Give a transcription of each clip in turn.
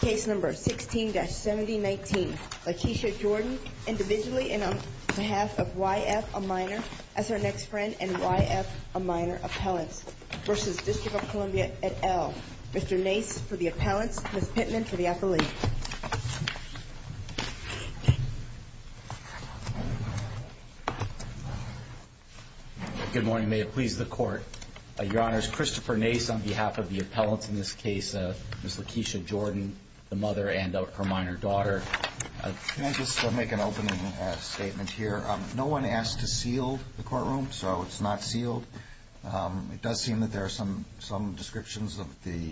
Case number 16-7019, Lakeisha Jordan, individually and on behalf of YF, a minor, as her next friend, and YF, a minor, appellants, versus District of Columbia et al. Mr. Nace for the appellants, Ms. Pittman for the affiliate. Good morning. May it please the Court. Your Honors, Christopher Nace on behalf of the appellants in this case, Ms. Lakeisha Jordan, the mother and her minor daughter. Can I just make an opening statement here? No one asked to seal the courtroom, so it's not sealed. It does seem that there are some descriptions of the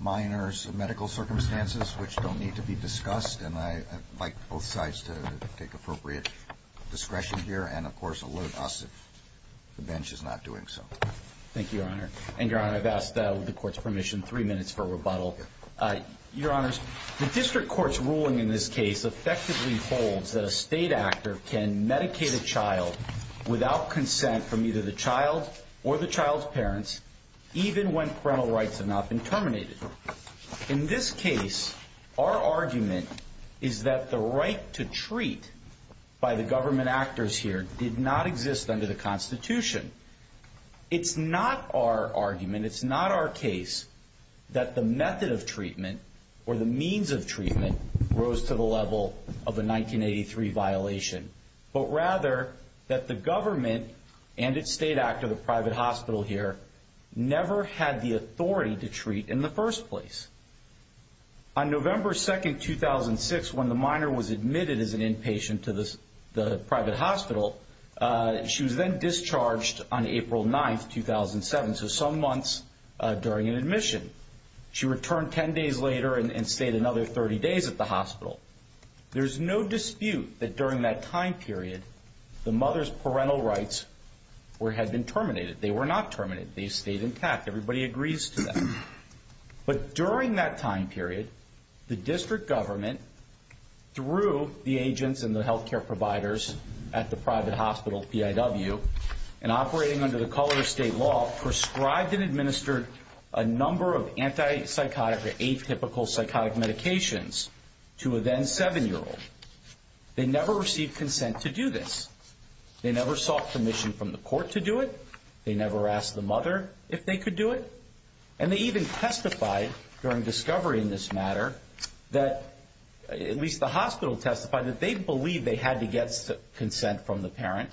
minor's medical circumstances which don't need to be discussed, and I'd like both sides to take appropriate discretion here and, of course, alert us if the bench is not doing so. Thank you, Your Honor. And, Your Honor, I've asked the Court's permission, three minutes for rebuttal. Your Honors, the District Court's ruling in this case effectively holds that a state actor can medicate a child without consent from either the child or the child's parents, even when parental rights have not been terminated. In this case, our argument is that the right to treat by the government actors here did not exist under the Constitution. It's not our argument, it's not our case that the method of treatment or the means of treatment rose to the level of a 1983 violation, but rather that the government and its state actor, the private hospital here, never had the authority to treat, in the first place. On November 2nd, 2006, when the minor was admitted as an inpatient to the private hospital, she was then discharged on April 9th, 2007, so some months during an admission. She returned 10 days later and stayed another 30 days at the hospital. There's no dispute that during that time period, the mother's parental rights had been terminated. They were not terminated. They stayed intact. Everybody agrees to that. But during that time period, the District Government, through the agents and the health care providers at the private hospital, PIW, and operating under the color of state law, prescribed and administered a number of anti-psychotic or atypical psychotic medications to a then seven-year-old. They never received consent to do this. They never sought permission from the court to do it. They never asked the mother if they could do it. And they even testified during discovery in this matter, at least the hospital testified, that they believed they had to get consent from the parent.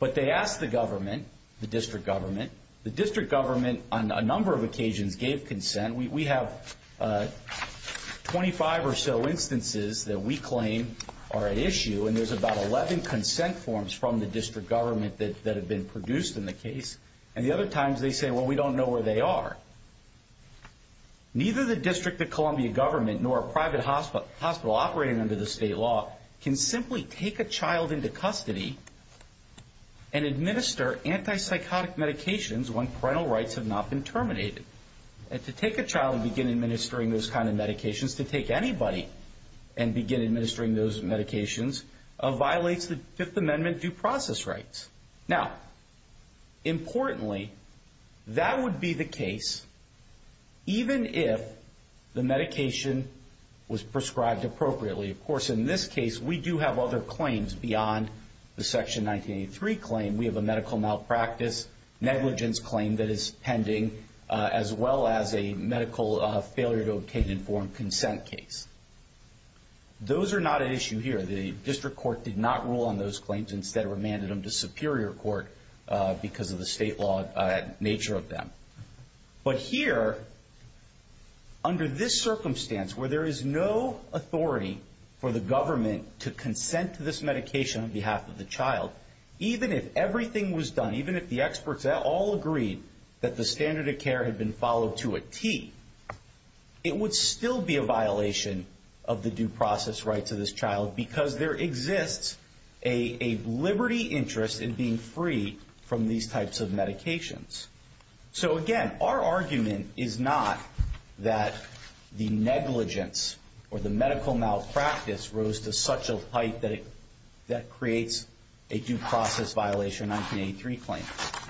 But they asked the government, the District Government. The District Government, on a number of occasions, gave consent. We have 25 or so instances that we claim are at issue, and there's about 11 consent forms from the District Government that have been produced in the case. And the other times, they say, well, we don't know where they are. Neither the District of Columbia government nor a private hospital operating under the state law can simply take a child into custody and administer anti-psychotic medications when parental rights have not been terminated. And to take a child and begin administering those kind of medications, to take anybody and begin administering those medications, violates the Fifth Amendment due process rights. Now, importantly, that would be the case even if the medication was prescribed appropriately. Of course, in this case, we do have other claims beyond the Section 1983 claim. We have a medical malpractice negligence claim that is pending, as well as a medical failure to obtain informed consent case. Those are not at issue here. The District Court did not rule on those claims. Instead, it remanded them to Superior Court because of the state law nature of them. But here, under this circumstance, where there is no authority for the government to consent to this medication on behalf of the child, even if everything was done, even if the experts all agreed that the standard of care had been followed to a T, it would still be a violation of the due process rights of this child because there exists a liberty interest in being free from these types of medications. Again, our argument is not that the negligence or the medical malpractice rose to such a height that creates a due process violation 1983 claim.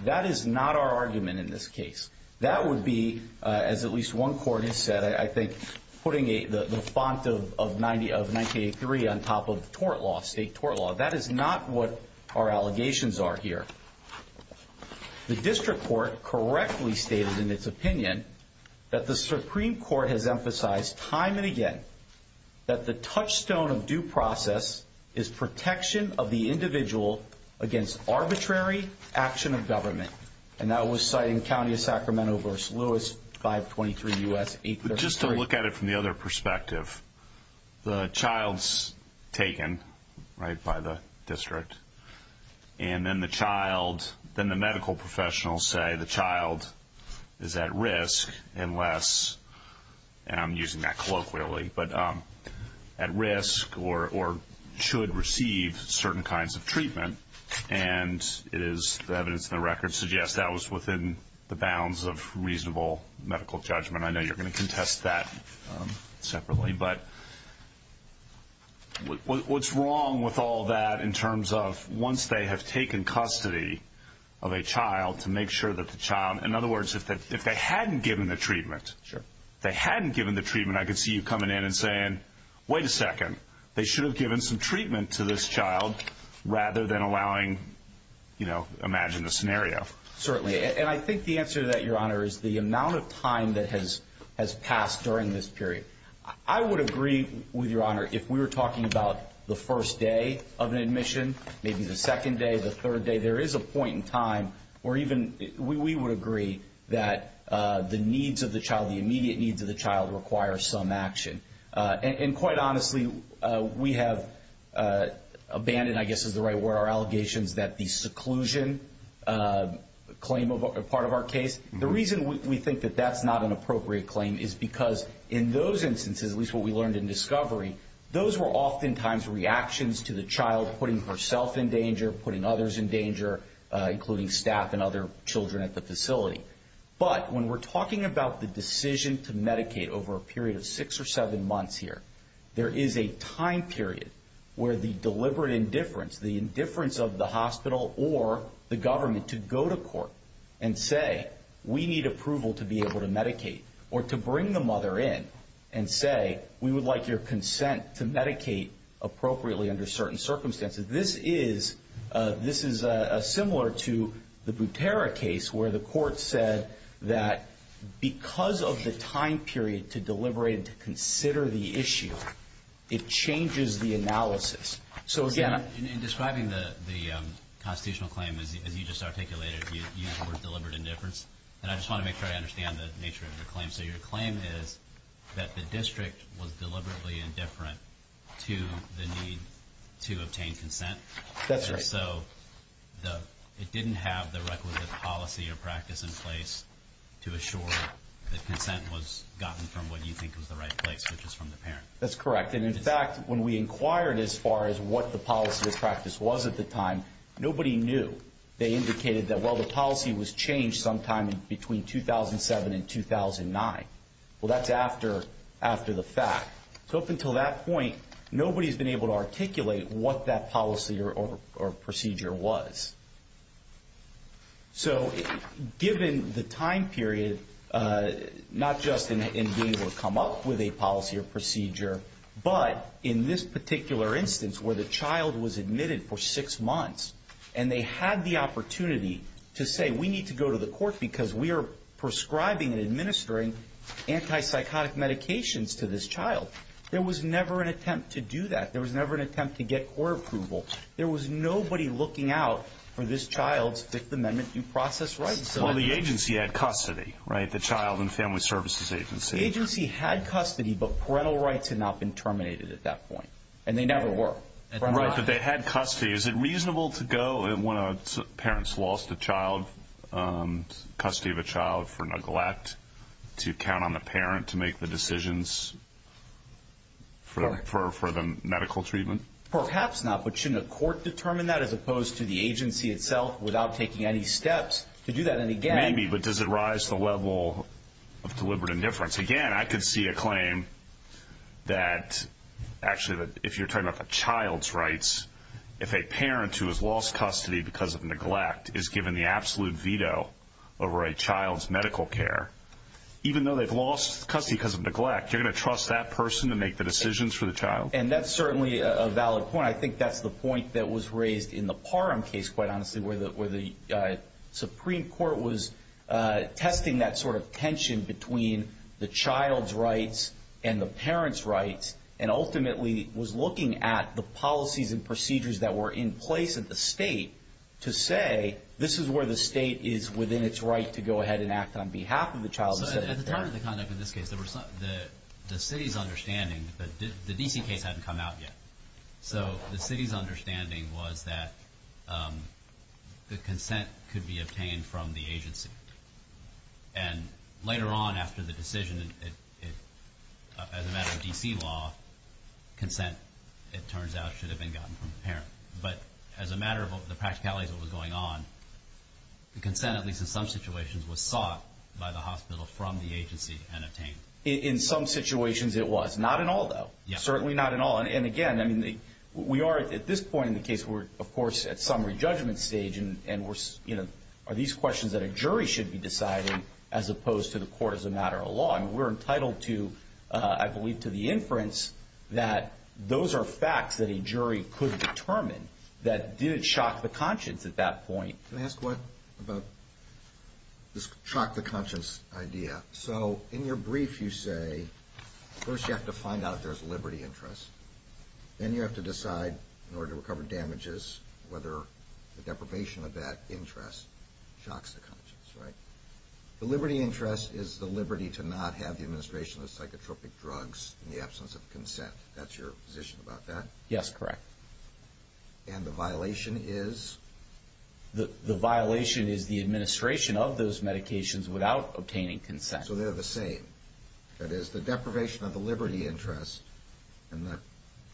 That is not our argument in this case. That would be, as at least one court has said, I think, putting the font of 1983 on top of tort law, state tort law. That is not what our allegations are here. The District Court correctly stated in its opinion that the Supreme Court has emphasized time and again that the touchstone of due process is protection of the individual against arbitrary action of government. And that was cited in County of Sacramento v. Lewis 523 U.S. 833. Just to look at it from the other perspective, the child's taken, right, by the district. And then the medical professionals say the child is at risk unless, and I'm using that colloquially, but at risk or should receive certain kinds of treatment. And it is the evidence in the record suggests that was within the bounds of reasonable medical judgment. I know you're going to contest that separately, but what's wrong with all that in terms of once they have taken custody of a child to make sure that the child, in other words, if they hadn't given the treatment, they hadn't given the treatment, I could see you coming in and saying, wait a second. They should have given some treatment to this child rather than allowing, you know, imagine the scenario. Certainly. And I think the answer to that, Your Honor, is the amount of time that has passed during this period. I would agree with Your Honor if we were talking about the first day of an admission, maybe the second day, the third day, there is a point in time where even we would agree that the needs of the child, the immediate needs of the child require some action. And quite honestly, we have abandoned, I guess is the right word, our allegations that the seclusion claim of a part of our case. The reason we think that that's not an appropriate claim is because in those instances, at least what we learned in discovery, those were oftentimes reactions to the child putting herself in danger, putting others in danger, including staff and other children at the facility. But when we're talking about the decision to medicate over a period of six or seven months here, there is a time period where the deliberate indifference, the indifference of the hospital or the government to go to court and say, we need approval to be able to medicate or to bring the mother in and say, we would like your consent to medicate appropriately under certain circumstances. This is a similar to the Butera case where the court said that because of the time period to deliberate and to consider the issue, it changes the analysis. In describing the constitutional claim, as you just articulated, you use the word deliberate indifference, and I just want to make sure I understand the nature of your claim. So your claim is that the district was deliberately indifferent to the need to obtain consent. That's right. And so it didn't have the requisite policy or practice in place to assure that consent was gotten from what you think was the right place, which is from the parent. That's correct. And in fact, when we inquired as far as what the policy or practice was at the time, nobody knew. They indicated that, well, the policy was changed sometime between 2007 and 2009. Well, that's after the fact. So up until that point, nobody's been able to articulate what that policy or procedure was. So given the time period, not just in being able to come up with a policy or procedure, but in this particular instance where the child was admitted for six months and they had the opportunity to say, we need to go to the court because we are prescribing and administering antipsychotic medications to this child. There was never an attempt to do that. There was never an attempt to get court approval. There was nobody looking out for this child's Fifth Amendment due process rights. Well, the agency had custody, right? The Child and Family Services Agency. The agency had custody, but parental rights had not been terminated at that point, and they never were. Right, but they had custody. Is it reasonable to go when a parent's lost a child, custody of a child for neglect, to count on the parent to make the decisions for the medical treatment? Perhaps not, but shouldn't a court determine that as opposed to the agency itself without taking any steps to do that? Maybe, but does it rise to the level of deliberate indifference? Again, I could see a claim that actually if you're talking about a child's rights, if a parent who has lost custody because of neglect is given the absolute veto over a child's medical care, even though they've lost custody because of neglect, you're going to trust that person to make the decisions for the child? And that's certainly a valid point. I think that's the point that was raised in the Parham case, quite honestly, where the Supreme Court was testing that sort of tension between the child's rights and the parent's rights and ultimately was looking at the policies and procedures that were in place at the state to say, this is where the state is within its right to go ahead and act on behalf of the child. At the time of the conduct in this case, the city's understanding, the D.C. case hadn't come out yet, so the city's understanding was that the consent could be obtained from the agency. And later on after the decision, as a matter of D.C. law, consent, it turns out, should have been gotten from the parent. But as a matter of the practicalities of what was going on, the consent, at least in some situations, was sought by the hospital from the agency and obtained. In some situations it was. Not in all, though. Certainly not in all. And again, we are at this point in the case, of course, at summary judgment stage, and are these questions that a jury should be deciding as opposed to the court as a matter of law? We're entitled to, I believe, to the inference that those are facts that a jury could determine that didn't shock the conscience at that point. Can I ask one about this shock the conscience idea? So in your brief you say, first you have to find out if there's liberty interest. Then you have to decide, in order to recover damages, whether the deprivation of that interest shocks the conscience, right? The liberty interest is the liberty to not have the administration of psychotropic drugs in the absence of consent. That's your position about that? Yes, correct. And the violation is? The violation is the administration of those medications without obtaining consent. So they're the same? That is, the deprivation of the liberty interest and the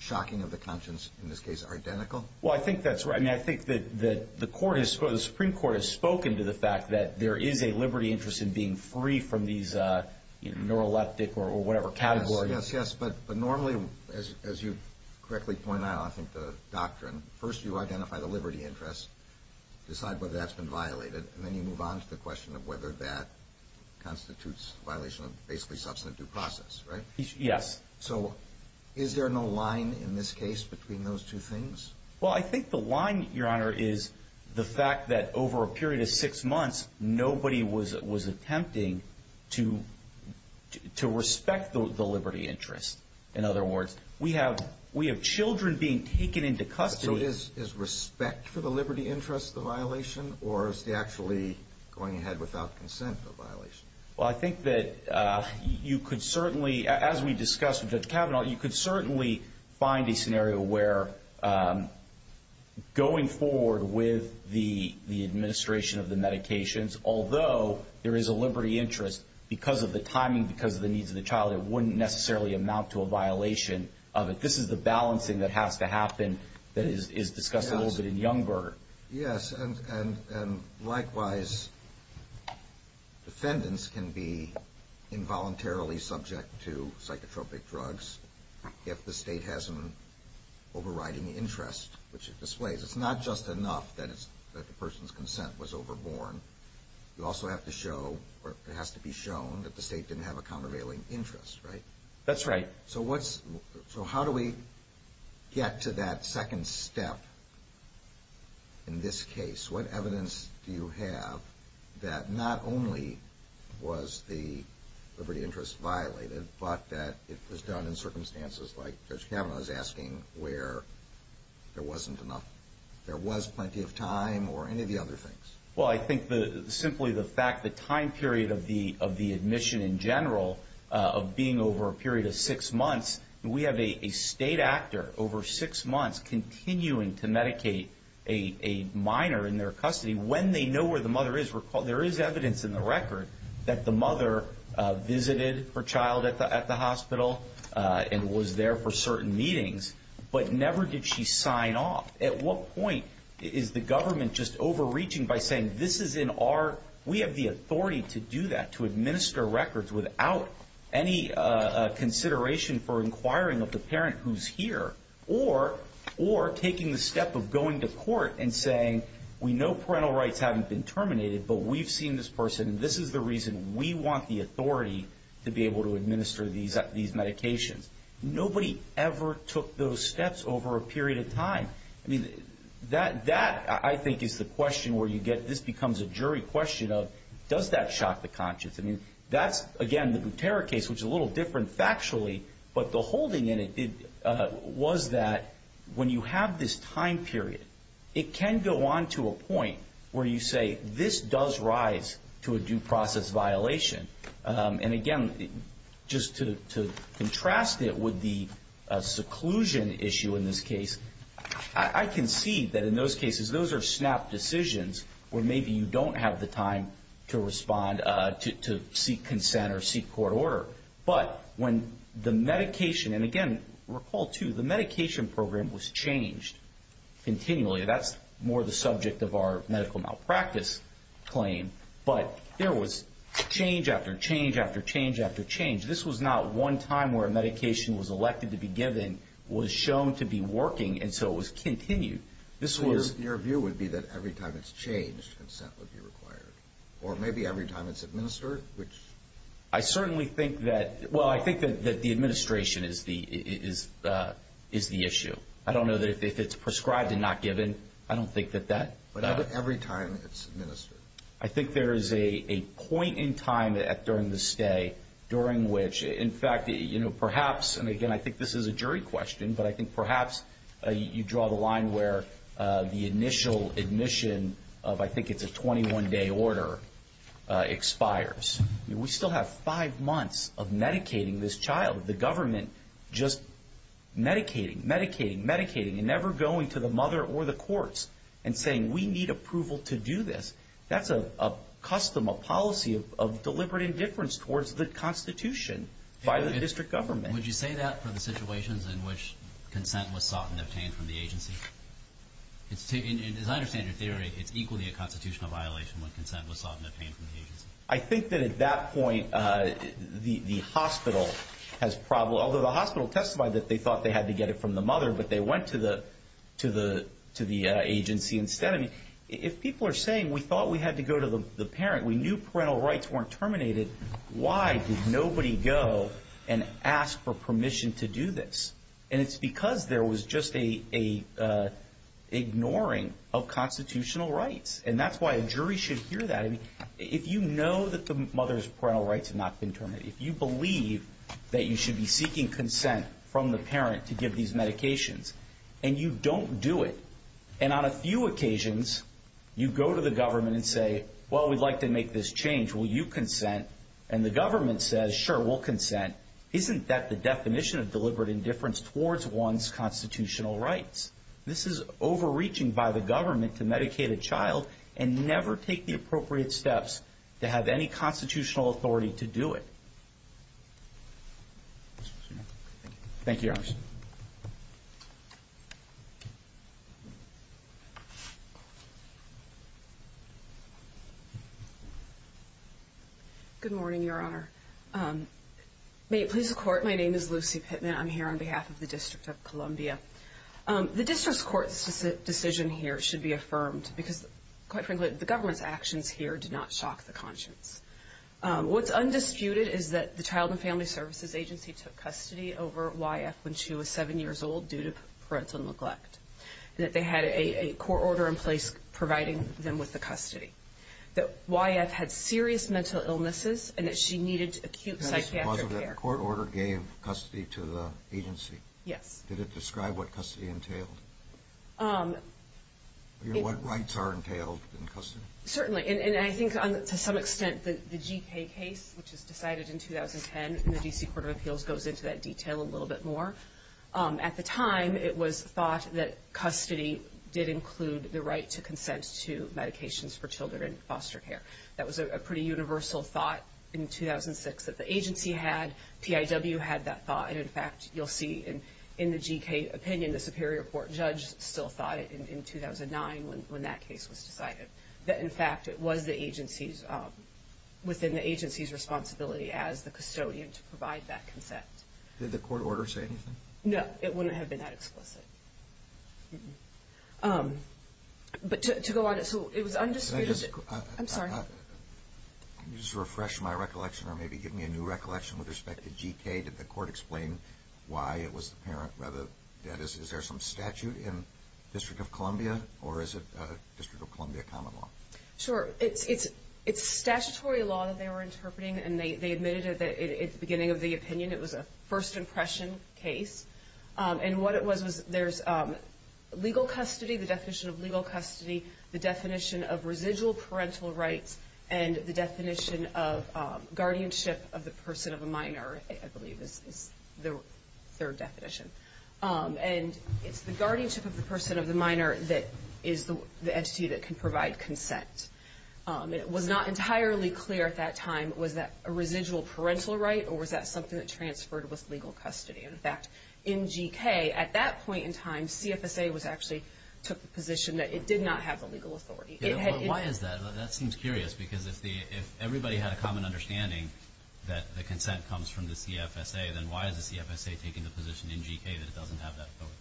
shocking of the conscience, in this case, are identical? Well, I think that's right. I mean, I think that the Supreme Court has spoken to the fact that there is a liberty interest in being free from these neuroleptic or whatever categories. Well, yes, yes, but normally, as you correctly point out, I think the doctrine, first you identify the liberty interest, decide whether that's been violated, and then you move on to the question of whether that constitutes violation of basically substantive due process, right? Yes. So is there no line in this case between those two things? Well, I think the line, Your Honor, is the fact that over a period of six months, nobody was attempting to respect the liberty interest. In other words, we have children being taken into custody. So is respect for the liberty interest the violation, or is the actually going ahead without consent the violation? Well, I think that you could certainly, as we discussed with Judge Kavanaugh, you could certainly find a scenario where going forward with the administration of the medications, although there is a liberty interest, because of the timing, because of the needs of the child, it wouldn't necessarily amount to a violation of it. This is the balancing that has to happen that is discussed a little bit in Youngberg. Yes, and likewise, defendants can be involuntarily subject to psychotropic drugs if the state has an overriding interest, which it displays. It's not just enough that the person's consent was overborne. You also have to show, or it has to be shown, that the state didn't have a countervailing interest, right? That's right. So how do we get to that second step in this case? What evidence do you have that not only was the liberty interest violated, but that it was done in circumstances like Judge Kavanaugh is asking where there wasn't enough, there was plenty of time, or any of the other things? Well, I think simply the fact the time period of the admission in general of being over a period of six months, we have a state actor over six months continuing to medicate a minor in their custody. When they know where the mother is, there is evidence in the record that the mother visited her child at the hospital and was there for certain meetings, but never did she sign off. At what point is the government just overreaching by saying this is in our, we have the authority to do that, to administer records without any consideration for inquiring of the parent who's here, or taking the step of going to court and saying we know parental rights haven't been terminated, but we've seen this person and this is the reason we want the authority to be able to administer these medications. Nobody ever took those steps over a period of time. I mean, that I think is the question where you get, this becomes a jury question of does that shock the conscience? I mean, that's, again, the Butera case, which is a little different factually, but the holding in it was that when you have this time period, it can go on to a point where you say this does rise to a due process violation. And again, just to contrast it with the seclusion issue in this case, I can see that in those cases those are snap decisions where maybe you don't have the time to respond, to seek consent or seek court order. But when the medication, and again, recall too, the medication program was changed continually. That's more the subject of our medical malpractice claim. But there was change after change after change after change. This was not one time where a medication was elected to be given, was shown to be working, and so it was continued. Your view would be that every time it's changed, consent would be required. Or maybe every time it's administered, which. I certainly think that, well, I think that the administration is the issue. I don't know that if it's prescribed and not given, I don't think that that. But every time it's administered. I think there is a point in time during the stay during which, in fact, perhaps, and again, I think this is a jury question, but I think perhaps you draw the line where the initial admission of, I think it's a 21-day order, expires. We still have five months of medicating this child. The government just medicating, medicating, medicating, and never going to the mother or the courts and saying, we need approval to do this. That's a custom, a policy of deliberate indifference towards the Constitution by the district government. Would you say that for the situations in which consent was sought and obtained from the agency? As I understand your theory, it's equally a constitutional violation when consent was sought and obtained from the agency. I think that at that point, the hospital has probably, although the hospital testified that they thought they had to get it from the mother, but they went to the agency instead. If people are saying, we thought we had to go to the parent, we knew parental rights weren't terminated, why did nobody go and ask for permission to do this? And it's because there was just an ignoring of constitutional rights. And that's why a jury should hear that. If you know that the mother's parental rights have not been terminated, if you believe that you should be seeking consent from the parent to give these medications, and you don't do it, and on a few occasions you go to the government and say, well, we'd like to make this change, will you consent? And the government says, sure, we'll consent. Isn't that the definition of deliberate indifference towards one's constitutional rights? This is overreaching by the government to medicate a child and never take the appropriate steps to have any constitutional authority to do it. Thank you, Your Honor. Good morning, Your Honor. May it please the Court, my name is Lucy Pittman. I'm here on behalf of the District of Columbia. The district court's decision here should be affirmed because, quite frankly, the government's actions here do not shock the conscience. What's undisputed is that the Child and Family Services Agency took custody over YF when she was seven years old due to parental neglect, and that they had a court order in place providing them with the custody, that YF had serious mental illnesses, and that she needed acute psychiatric care. The court order gave custody to the agency? Yes. Did it describe what custody entailed? What rights are entailed in custody? Certainly, and I think to some extent the G.K. case, which was decided in 2010, and the D.C. Court of Appeals goes into that detail a little bit more. At the time, it was thought that custody did include the right to consent to medications for children and foster care. That was a pretty universal thought in 2006 that the agency had, PIW had that thought, and, in fact, you'll see in the G.K. opinion, the Superior Court judge still thought it in 2009 when that case was decided, that, in fact, it was the agency's, within the agency's responsibility as the custodian to provide that consent. Did the court order say anything? No, it wouldn't have been that explicit. But to go on, so it was undisputed. Can I just? I'm sorry. Can you just refresh my recollection or maybe give me a new recollection with respect to G.K.? Did the court explain why it was apparent? Is there some statute in District of Columbia, or is it District of Columbia common law? Sure. It's statutory law that they were interpreting, and they admitted it at the beginning of the opinion. It was a first impression case. And what it was was there's legal custody, the definition of legal custody, the definition of residual parental rights, and the definition of guardianship of the person of a minor, I believe, is the third definition. And it's the guardianship of the person of the minor that is the entity that can provide consent. It was not entirely clear at that time, was that a residual parental right or was that something that transferred with legal custody? In fact, in G.K., at that point in time, CFSA actually took the position that it did not have the legal authority. Why is that? That seems curious because if everybody had a common understanding that the consent comes from the CFSA, then why is the CFSA taking the position in G.K. that it doesn't have that authority?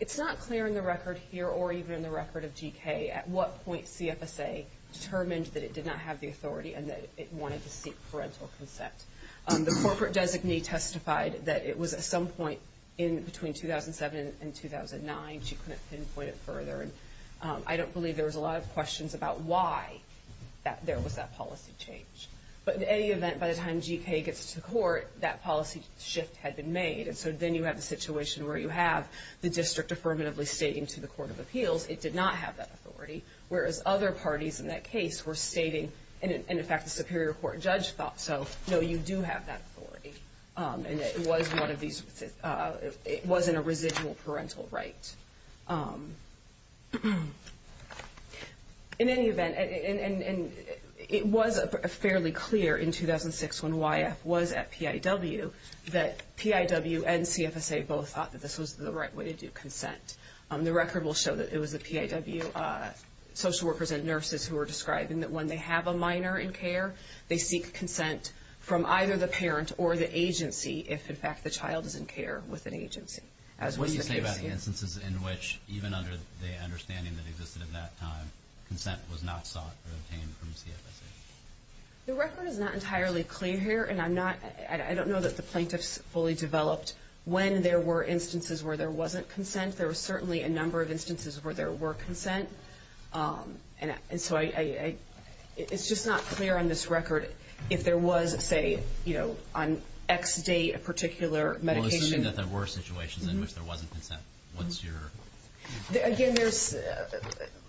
It's not clear in the record here or even in the record of G.K. at what point CFSA determined that it did not have the authority and that it wanted to seek parental consent. The corporate designee testified that it was at some point in between 2007 and 2009. She couldn't pinpoint it further. And I don't believe there was a lot of questions about why there was that policy change. But in any event, by the time G.K. gets to court, that policy shift had been made. And so then you have the situation where you have the district affirmatively stating to the Court of Appeals it did not have that authority, whereas other parties in that case were stating, and in fact the Superior Court judge thought so, no, you do have that authority. And it wasn't a residual parental right. In any event, and it was fairly clear in 2006 when YF was at PIW that PIW and CFSA both thought that this was the right way to do consent. The record will show that it was the PIW social workers and nurses who were describing that when they have a minor in care, they seek consent from either the parent or the agency if in fact the child is in care with an agency, as was the case here. What do you say about the instances in which, even under the understanding that existed at that time, consent was not sought or obtained from CFSA? The record is not entirely clear here, and I don't know that the plaintiffs fully developed when there were instances where there wasn't consent. There were certainly a number of instances where there were consent. And so it's just not clear on this record if there was, say, on X date, a particular medication. Well, assuming that there were situations in which there wasn't consent, what's your... Again,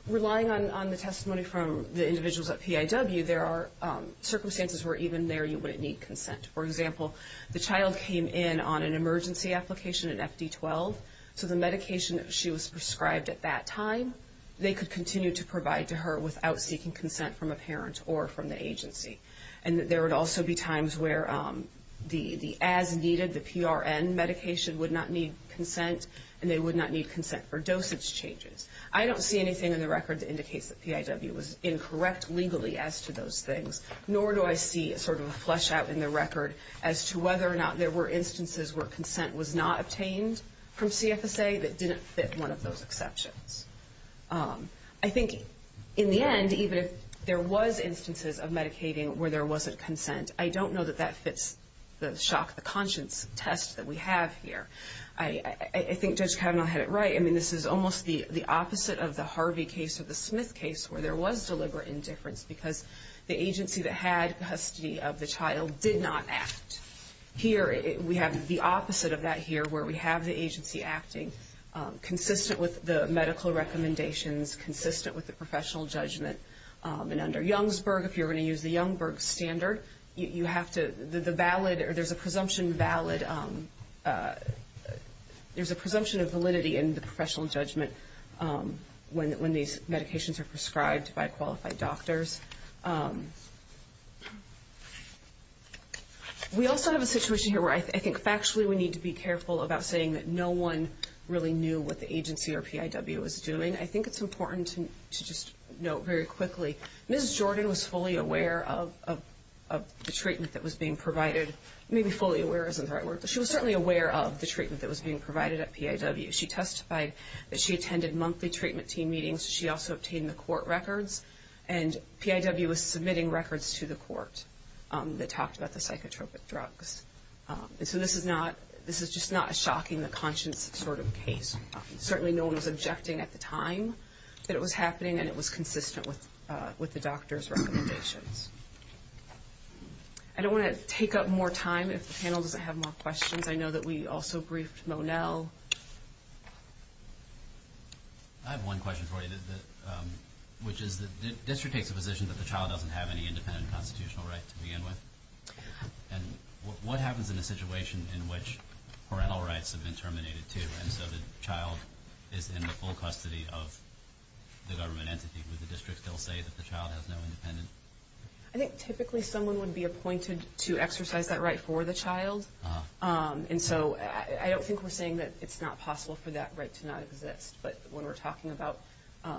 relying on the testimony from the individuals at PIW, there are circumstances where even there you wouldn't need consent. For example, the child came in on an emergency application, an FD-12, so the medication that she was prescribed at that time, they could continue to provide to her without seeking consent from a parent or from the agency. And there would also be times where the as-needed, the PRN medication, would not need consent, and they would not need consent for dosage changes. I don't see anything in the record that indicates that PIW was incorrect legally as to those things, nor do I see sort of a flesh-out in the record as to whether or not there were instances where consent was not obtained from CFSA that didn't fit one of those exceptions. I think in the end, even if there was instances of medicating where there wasn't consent, I don't know that that fits the shock-the-conscience test that we have here. I think Judge Kavanaugh had it right. I mean, this is almost the opposite of the Harvey case or the Smith case where there was deliberate indifference because the agency that had custody of the child did not act. Here, we have the opposite of that here, where we have the agency acting consistent with the medical recommendations, consistent with the professional judgment. And under Youngsburg, if you're going to use the Youngsburg standard, you have to-there's a presumption of validity in the professional judgment when these medications are prescribed by qualified doctors. We also have a situation here where I think factually we need to be careful about saying that no one really knew what the agency or PIW was doing. I think it's important to just note very quickly, Ms. Jordan was fully aware of the treatment that was being provided. Maybe fully aware isn't the right word, but she was certainly aware of the treatment that was being provided at PIW. She testified that she attended monthly treatment team meetings. She also obtained the court records. And PIW was submitting records to the court that talked about the psychotropic drugs. And so this is not-this is just not a shocking the conscience sort of case. Certainly no one was objecting at the time that it was happening, and it was consistent with the doctor's recommendations. I don't want to take up more time. If the panel doesn't have more questions, I know that we also briefed Monell. I have one question for you, which is the district takes a position that the child doesn't have any independent constitutional right to begin with. And what happens in a situation in which parental rights have been terminated, too, and so the child is in the full custody of the government entity? Would the district still say that the child has no independence? I think typically someone would be appointed to exercise that right for the child. And so I don't think we're saying that it's not possible for that right to not exist. But when we're talking about a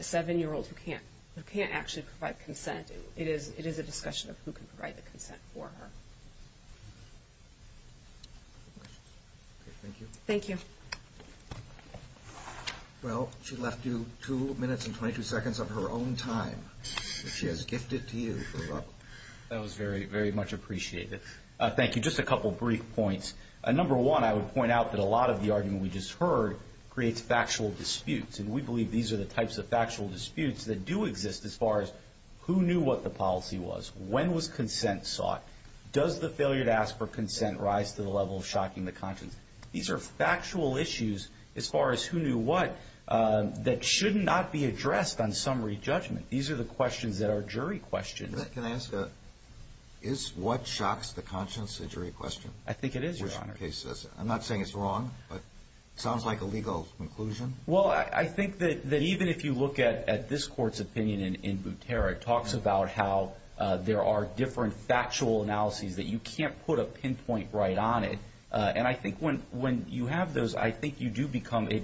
7-year-old who can't actually provide consent, it is a discussion of who can provide the consent for her. Thank you. Well, she left you 2 minutes and 22 seconds of her own time, which she has gifted to you. That was very, very much appreciated. Thank you. Just a couple of brief points. Number one, I would point out that a lot of the argument we just heard creates factual disputes. And we believe these are the types of factual disputes that do exist as far as who knew what the policy was, when was consent sought, does the failure to ask for consent rise to the level of shocking the conscience. These are factual issues as far as who knew what that should not be addressed on summary judgment. These are the questions that are jury questions. Can I ask, is what shocks the conscience a jury question? I think it is, Your Honor. I'm not saying it's wrong, but it sounds like a legal conclusion. Well, I think that even if you look at this Court's opinion in Butera, it talks about how there are different factual analyses that you can't put a pinpoint right on it. And I think when you have those, I think it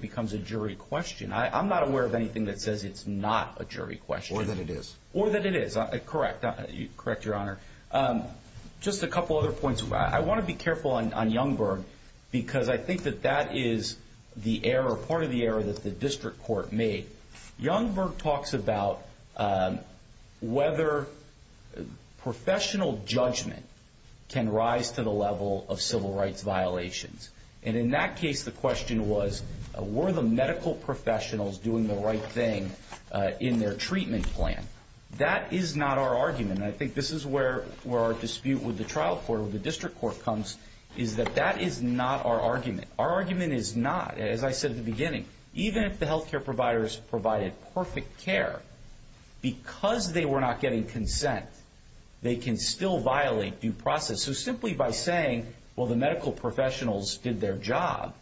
becomes a jury question. I'm not aware of anything that says it's not a jury question. Or that it is. Or that it is. Correct. Correct, Your Honor. Just a couple other points. I want to be careful on Youngberg because I think that that is the error, part of the error that the district court made. Youngberg talks about whether professional judgment can rise to the level of civil rights violations. And in that case, the question was, were the medical professionals doing the right thing in their treatment plan? That is not our argument. And I think this is where our dispute with the trial court or the district court comes, is that that is not our argument. Our argument is not, as I said at the beginning, even if the health care providers provided perfect care, because they were not getting consent, they can still violate due process. So simply by saying, well, the medical professionals did their job,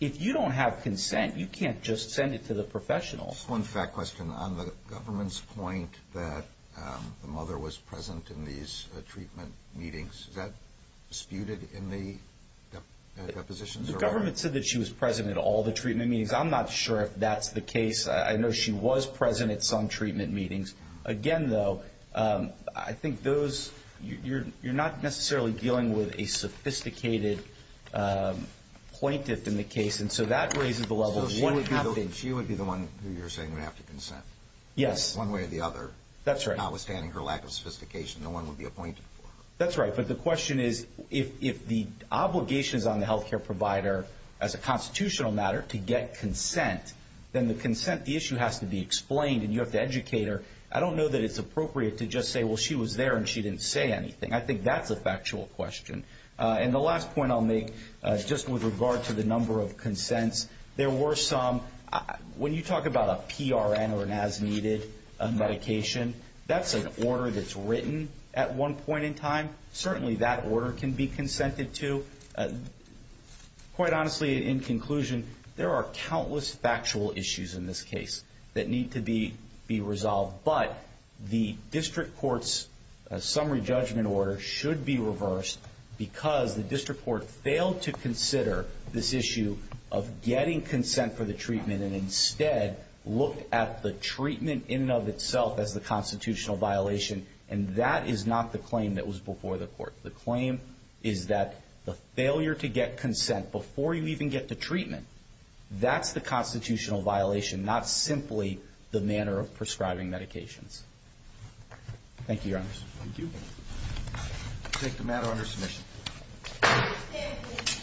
if you don't have consent, you can't just send it to the professionals. One fact question. On the government's point that the mother was present in these treatment meetings, is that disputed in the depositions? The government said that she was present at all the treatment meetings. I'm not sure if that's the case. I know she was present at some treatment meetings. Again, though, I think those, you're not necessarily dealing with a sophisticated appointed in the case. And so that raises the level of what happened. She would be the one who you're saying would have to consent. Yes. One way or the other. That's right. Notwithstanding her lack of sophistication, no one would be appointed for her. That's right. But the question is, if the obligation is on the health care provider as a constitutional matter to get consent, then the consent, the issue has to be explained and you have to educate her. I don't know that it's appropriate to just say, well, she was there and she didn't say anything. I think that's a factual question. And the last point I'll make, just with regard to the number of consents, there were some. When you talk about a PRN or an as needed medication, that's an order that's written at one point in time. Certainly that order can be consented to. Quite honestly, in conclusion, there are countless factual issues in this case that need to be resolved. But the district court's summary judgment order should be reversed because the district court failed to consider this issue of getting consent for the treatment and instead looked at the treatment in and of itself as the constitutional violation. And that is not the claim that was before the court. The claim is that the failure to get consent before you even get to treatment, that's the constitutional violation, not simply the manner of prescribing medications. Thank you, Your Honors. Thank you. We'll take the matter under submission.